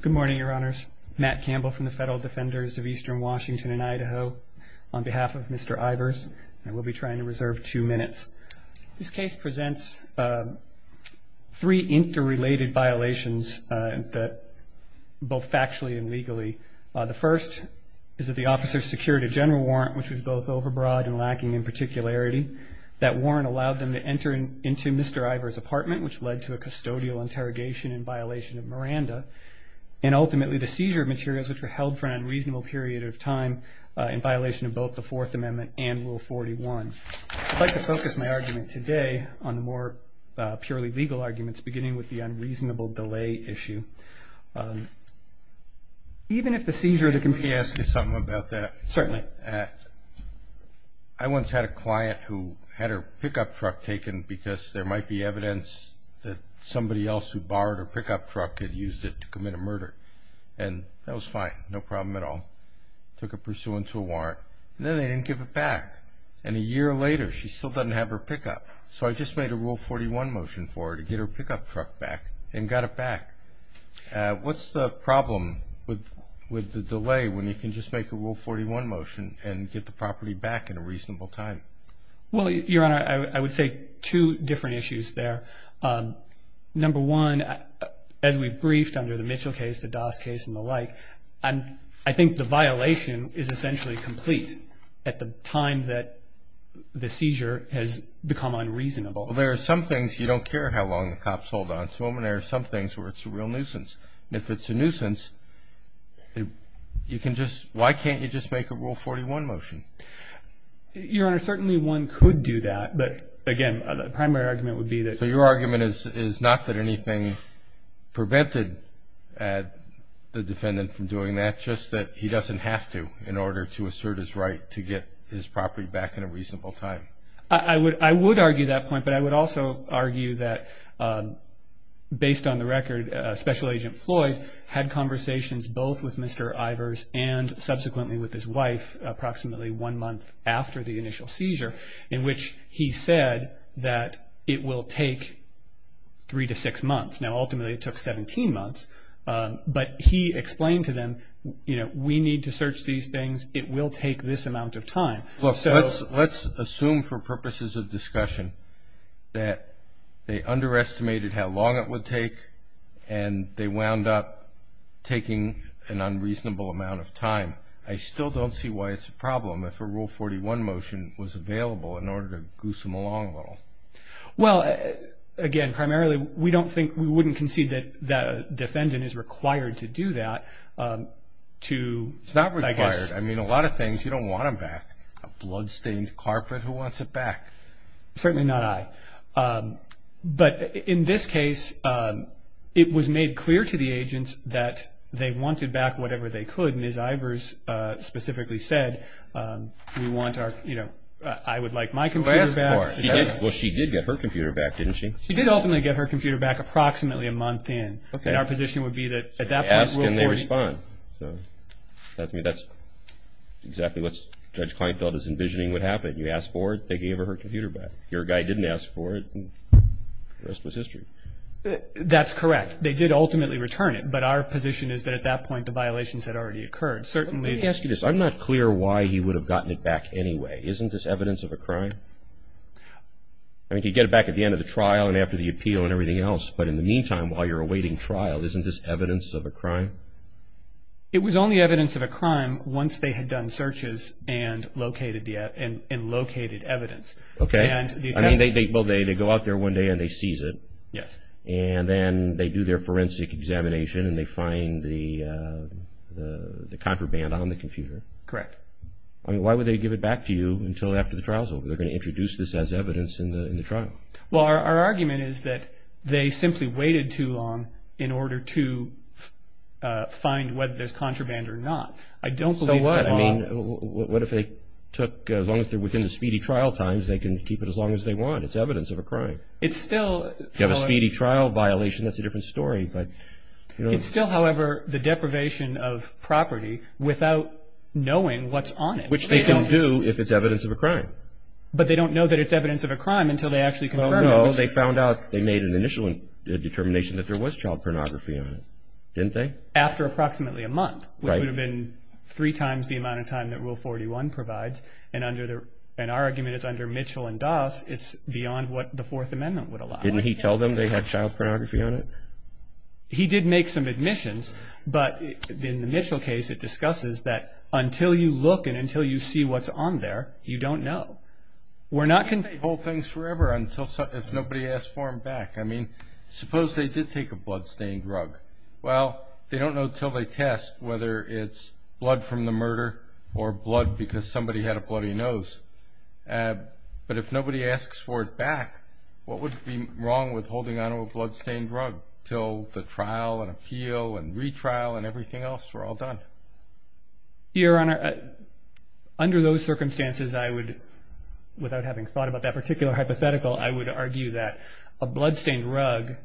Good morning, your honors. Matt Campbell from the Federal Defenders of Eastern Washington and Idaho on behalf of Mr. Ivers, and we'll be trying to reserve two minutes. This case presents three interrelated violations, both factually and legally. The first is that the officer secured a general warrant, which was both overbroad and lacking in particularity. That warrant allowed them to enter into Mr. Ivers' apartment, which led to a custodial interrogation in violation of Miranda. And ultimately, the seizure of materials, which were held for an unreasonable period of time in violation of both the Fourth Amendment and Rule 41. I'd like to focus my argument today on the more purely legal arguments, beginning with the unreasonable delay issue. Even if the seizure of the computer… Can I ask you something about that? Certainly. I once had a client who had her pickup truck taken because there might be evidence that somebody else who borrowed her pickup truck had used it to commit a murder. And that was fine, no problem at all. Took her pursuant to a warrant, and then they didn't give it back. And a year later, she still doesn't have her pickup. So I just made a Rule 41 motion for her to get her pickup truck back and got it back. What's the problem with the delay when you can just make a Rule 41 motion and get the property back in a reasonable time? Well, Your Honor, I would say two different issues there. Number one, as we briefed under the Mitchell case, the Doss case, and the like, I think the violation is essentially complete at the time that the seizure has become unreasonable. Well, there are some things you don't care how long the cops hold on to them, and there are some things where it's a real nuisance. And if it's a nuisance, you can just – why can't you just make a Rule 41 motion? Your Honor, certainly one could do that. But, again, the primary argument would be that… So your argument is not that anything prevented the defendant from doing that, just that he doesn't have to in order to assert his right to get his property back in a reasonable time? I would argue that point, but I would also argue that, based on the record, Special Agent Floyd had conversations both with Mr. Ivers and subsequently with his wife approximately one month after the initial seizure in which he said that it will take three to six months. Now, ultimately it took 17 months, but he explained to them, you know, we need to search these things, it will take this amount of time. Look, let's assume for purposes of discussion that they underestimated how long it would take and they wound up taking an unreasonable amount of time. I still don't see why it's a problem if a Rule 41 motion was available in order to goose them along a little. Well, again, primarily we don't think – we wouldn't concede that a defendant is required to do that to, I guess… A blood-stained carpet? Who wants it back? Certainly not I. But in this case, it was made clear to the agents that they wanted back whatever they could. Ms. Ivers specifically said, you know, I would like my computer back. Well, she did get her computer back, didn't she? She did ultimately get her computer back approximately a month in, and our position would be that at that point Rule 40… I mean, that's exactly what Judge Kleinfeld is envisioning would happen. You ask for it, they gave her her computer back. Your guy didn't ask for it, and the rest was history. That's correct. They did ultimately return it, but our position is that at that point the violations had already occurred. Certainly… Let me ask you this. I'm not clear why he would have gotten it back anyway. Isn't this evidence of a crime? I mean, he'd get it back at the end of the trial and after the appeal and everything else, but in the meantime while you're awaiting trial, isn't this evidence of a crime? It was only evidence of a crime once they had done searches and located evidence. Okay. I mean, they go out there one day and they seize it. Yes. And then they do their forensic examination and they find the contraband on the computer. Correct. I mean, why would they give it back to you until after the trial's over? They're going to introduce this as evidence in the trial. Well, our argument is that they simply waited too long in order to find whether there's contraband or not. I don't believe that at all. So what? I mean, what if they took, as long as they're within the speedy trial times, they can keep it as long as they want. It's evidence of a crime. It's still, however… You have a speedy trial violation, that's a different story, but… It's still, however, the deprivation of property without knowing what's on it. Which they can do if it's evidence of a crime. But they don't know that it's evidence of a crime until they actually confirm it. Well, no, they found out, they made an initial determination that there was child pornography on it. Didn't they? After approximately a month, which would have been three times the amount of time that Rule 41 provides. And our argument is under Mitchell and Doss, it's beyond what the Fourth Amendment would allow. Didn't he tell them they had child pornography on it? He did make some admissions, but in the Mitchell case, it discusses that until you look and until you see what's on there, you don't know. We're not going to hold things forever if nobody asks for them back. I mean, suppose they did take a blood-stained rug. Well, they don't know until they test whether it's blood from the murder or blood because somebody had a bloody nose. But if nobody asks for it back, what would be wrong with holding on to a blood-stained rug until the trial and appeal and retrial and everything else were all done? Your Honor, under those circumstances, I would, without having thought about that particular hypothetical, I would argue that a blood-stained rug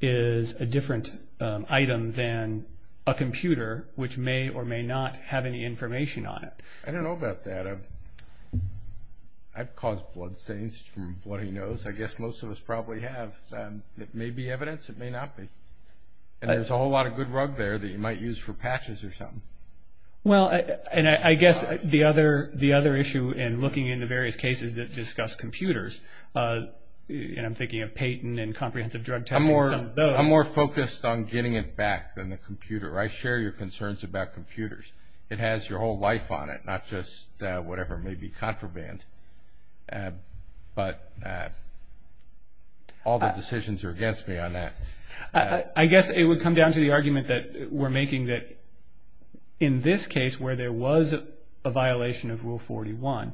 is a different item than a computer, which may or may not have any information on it. I don't know about that. I've caused blood stains from a bloody nose. I guess most of us probably have. But it may be evidence, it may not be. And there's a whole lot of good rug there that you might use for patches or something. Well, and I guess the other issue in looking into various cases that discuss computers, and I'm thinking of Payton and comprehensive drug testing, some of those. I'm more focused on getting it back than the computer. I share your concerns about computers. It has your whole life on it, not just whatever may be contraband. But all the decisions are against me on that. I guess it would come down to the argument that we're making that in this case, where there was a violation of Rule 41,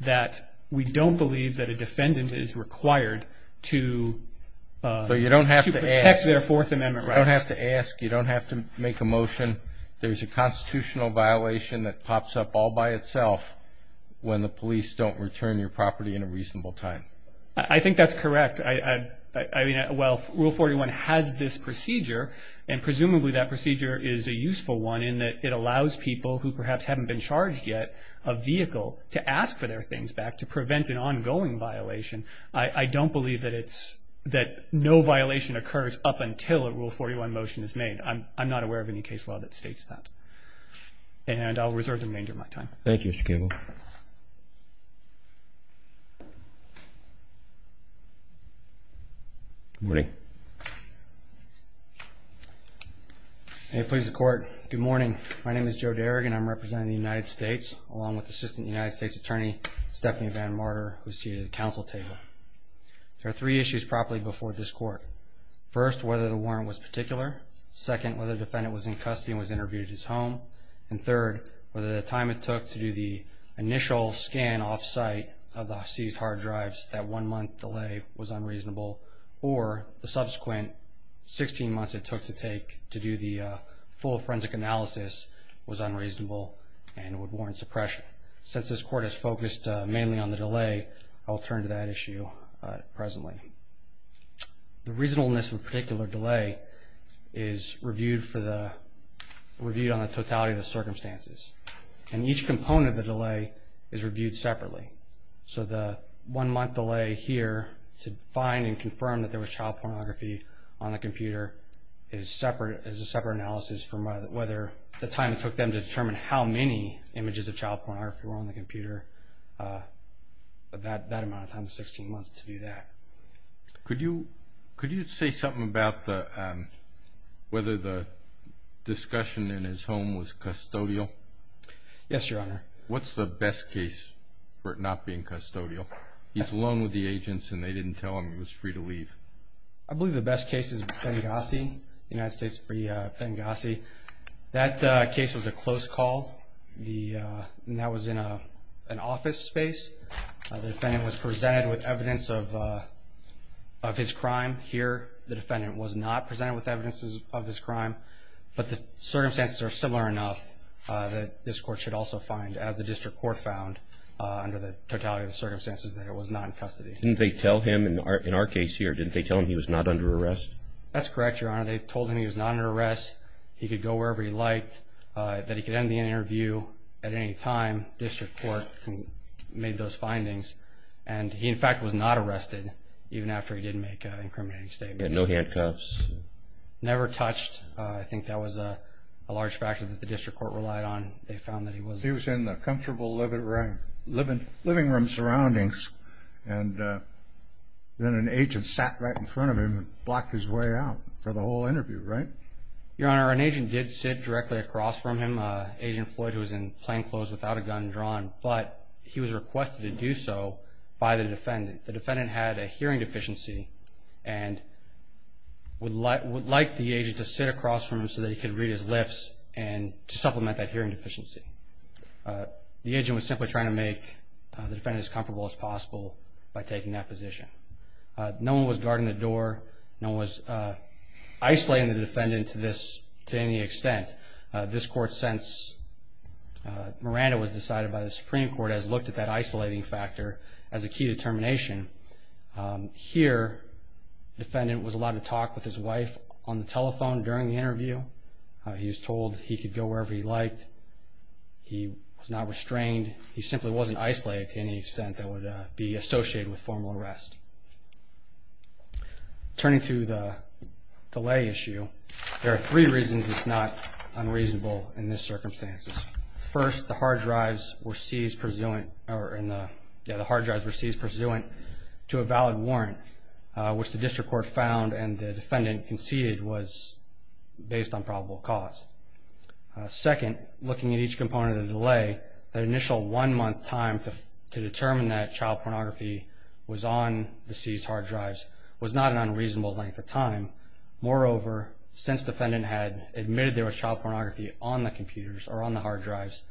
that we don't believe that a defendant is required to protect their Fourth Amendment rights. You don't have to ask. You don't have to make a motion. There's a constitutional violation that pops up all by itself when the police don't return your property in a reasonable time. I think that's correct. I mean, well, Rule 41 has this procedure, and presumably that procedure is a useful one in that it allows people who perhaps haven't been charged yet, a vehicle to ask for their things back to prevent an ongoing violation. I don't believe that no violation occurs up until a Rule 41 motion is made. I'm not aware of any case law that states that. And I'll reserve the remainder of my time. Thank you, Mr. Cable. Good morning. May it please the Court. Good morning. My name is Joe Darig, and I'm representing the United States, along with Assistant United States Attorney Stephanie Van Marder, who is seated at the Council table. There are three issues properly before this Court. First, whether the warrant was particular. Second, whether the defendant was in custody and was interviewed at his home. And third, whether the time it took to do the initial scan off-site of the seized hard drives, that one-month delay was unreasonable, or the subsequent 16 months it took to do the full forensic analysis was unreasonable and would warrant suppression. Since this Court is focused mainly on the delay, I'll turn to that issue presently. The reasonableness of a particular delay is reviewed on the totality of the circumstances. And each component of the delay is reviewed separately. So the one-month delay here to find and confirm that there was child pornography on the computer is a separate analysis from whether the time it took them to determine how many images of child pornography were on the computer, that amount of time, the 16 months to do that. Could you say something about whether the discussion in his home was custodial? Yes, Your Honor. What's the best case for it not being custodial? He's alone with the agents, and they didn't tell him he was free to leave. I believe the best case is Benghazi, United States v. Benghazi. That case was a close call, and that was in an office space. The defendant was presented with evidence of his crime here. The defendant was not presented with evidence of his crime. But the circumstances are similar enough that this Court should also find, as the District Court found under the totality of the circumstances, that it was not in custody. Didn't they tell him, in our case here, didn't they tell him he was not under arrest? That's correct, Your Honor. They told him he was not under arrest, he could go wherever he liked, that he could end the interview at any time. The District Court made those findings. And he, in fact, was not arrested even after he did make incriminating statements. He had no handcuffs? Never touched. I think that was a large factor that the District Court relied on. They found that he was... Living room surroundings. And then an agent sat right in front of him and blocked his way out for the whole interview, right? Your Honor, an agent did sit directly across from him, Agent Floyd, who was in plainclothes without a gun drawn. But he was requested to do so by the defendant. The defendant had a hearing deficiency and would like the agent to sit across from him so that he could read his lips and to supplement that hearing deficiency. The agent was simply trying to make the defendant as comfortable as possible by taking that position. No one was guarding the door. No one was isolating the defendant to any extent. This Court, since Miranda was decided by the Supreme Court, has looked at that isolating factor as a key determination. Here, the defendant was allowed to talk with his wife on the telephone during the interview. He was told he could go wherever he liked. He was not restrained. He simply wasn't isolated to any extent that would be associated with formal arrest. Turning to the delay issue, there are three reasons it's not unreasonable in this circumstance. First, the hard drives were seized pursuant to a valid warrant, which the district court found and the defendant conceded was based on probable cause. Second, looking at each component of the delay, the initial one-month time to determine that child pornography was on the seized hard drives was not an unreasonable length of time. Moreover, since the defendant had admitted there was child pornography on the computers or on the hard drives,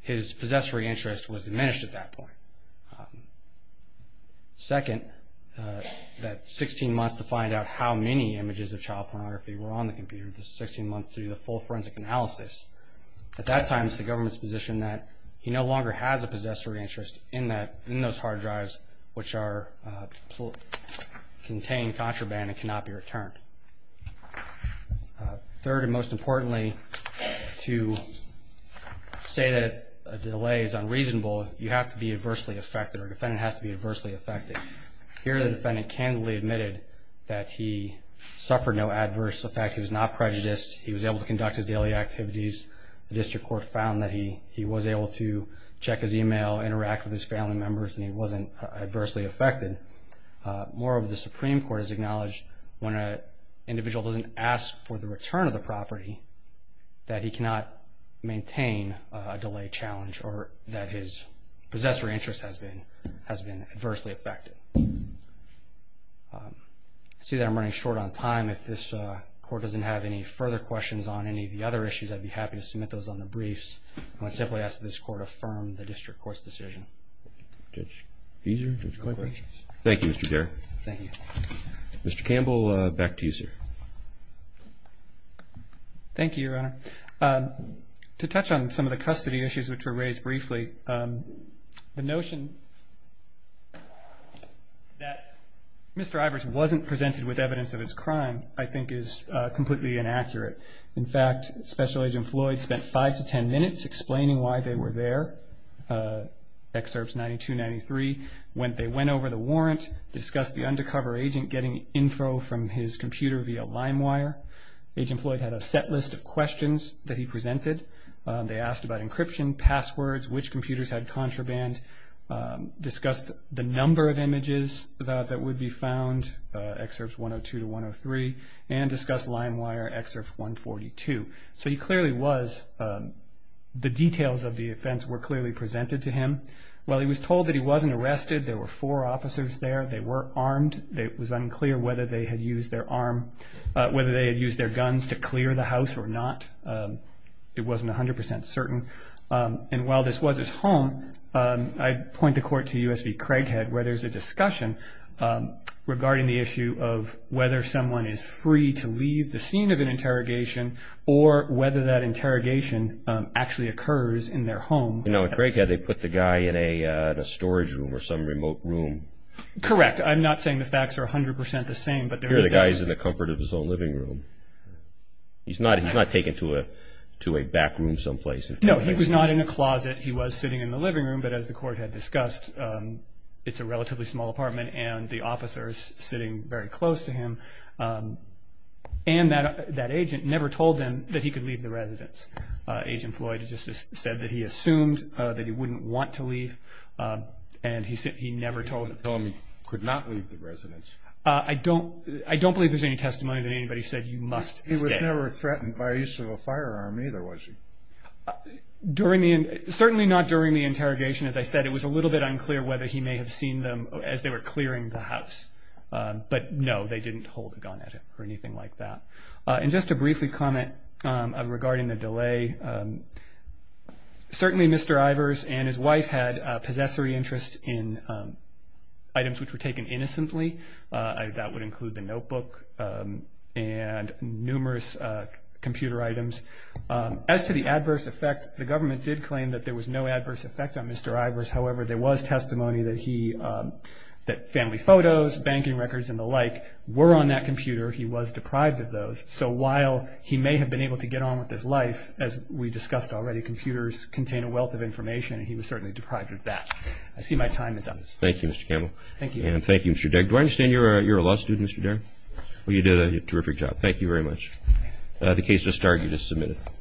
his possessory interest was diminished at that point. Second, that 16 months to find out how many images of child pornography were on the computer, the 16 months to do the full forensic analysis, at that time it's the government's position that he no longer has a possessory interest in those hard drives which contain contraband and cannot be returned. Third, and most importantly, to say that a delay is unreasonable, you have to be adversely affected or a defendant has to be adversely affected. Here the defendant candidly admitted that he suffered no adverse effect. He was not prejudiced. He was able to conduct his daily activities. The district court found that he was able to check his e-mail, interact with his family members, and he wasn't adversely affected. Moreover, the Supreme Court has acknowledged when an individual doesn't ask for the return of the property, that he cannot maintain a delay challenge or that his possessory interest has been adversely affected. I see that I'm running short on time. If this Court doesn't have any further questions on any of the other issues, I'd be happy to submit those on the briefs. I would simply ask that this Court affirm the district court's decision. Judge Fieser, do you have any questions? Thank you, Mr. Garrett. Thank you. Mr. Campbell, back to you, sir. Thank you, Your Honor. To touch on some of the custody issues which were raised briefly, the notion that Mr. Ivers wasn't presented with evidence of his crime I think is completely inaccurate. In fact, Special Agent Floyd spent five to ten minutes explaining why they were there, excerpts 92, 93. They went over the warrant, discussed the undercover agent getting info from his computer via LimeWire. Agent Floyd had a set list of questions that he presented. They asked about encryption, passwords, which computers had contraband, discussed the number of images that would be found, excerpts 102 to 103, and discussed LimeWire excerpt 142. So he clearly was, the details of the offense were clearly presented to him. While he was told that he wasn't arrested, there were four officers there, they were armed. It was unclear whether they had used their guns to clear the house or not. It wasn't 100% certain. And while this was his home, I'd point the Court to U.S. v. Craighead where there's a discussion regarding the issue of whether someone is free to leave the scene of an interrogation or whether that interrogation actually occurs in their home. You know, at Craighead they put the guy in a storage room or some remote room. Correct. I'm not saying the facts are 100% the same. Here the guy is in the comfort of his own living room. He's not taken to a back room someplace. No, he was not in a closet. He was sitting in the living room, but as the Court had discussed, it's a relatively small apartment and the officer is sitting very close to him. And that agent never told him that he could leave the residence. Agent Floyd just said that he assumed that he wouldn't want to leave and he never told him. He told him he could not leave the residence. I don't believe there's any testimony that anybody said you must stay. He was never threatened by use of a firearm either, was he? Certainly not during the interrogation. As I said, it was a little bit unclear whether he may have seen them as they were clearing the house. But no, they didn't hold a gun at him or anything like that. And just to briefly comment regarding the delay, certainly Mr. Ivers and his wife had possessory interest in items which were taken innocently. That would include the notebook and numerous computer items. As to the adverse effect, the government did claim that there was no adverse effect on Mr. Ivers. However, there was testimony that family photos, banking records and the like were on that computer. He was deprived of those. So while he may have been able to get on with his life, as we discussed already, computers contain a wealth of information and he was certainly deprived of that. I see my time is up. Thank you, Mr. Campbell. Thank you. And thank you, Mr. Degg. Do I understand you're a law student, Mr. Degg? Yes. Well, you did a terrific job. Thank you very much. The case just started. You just submitted it.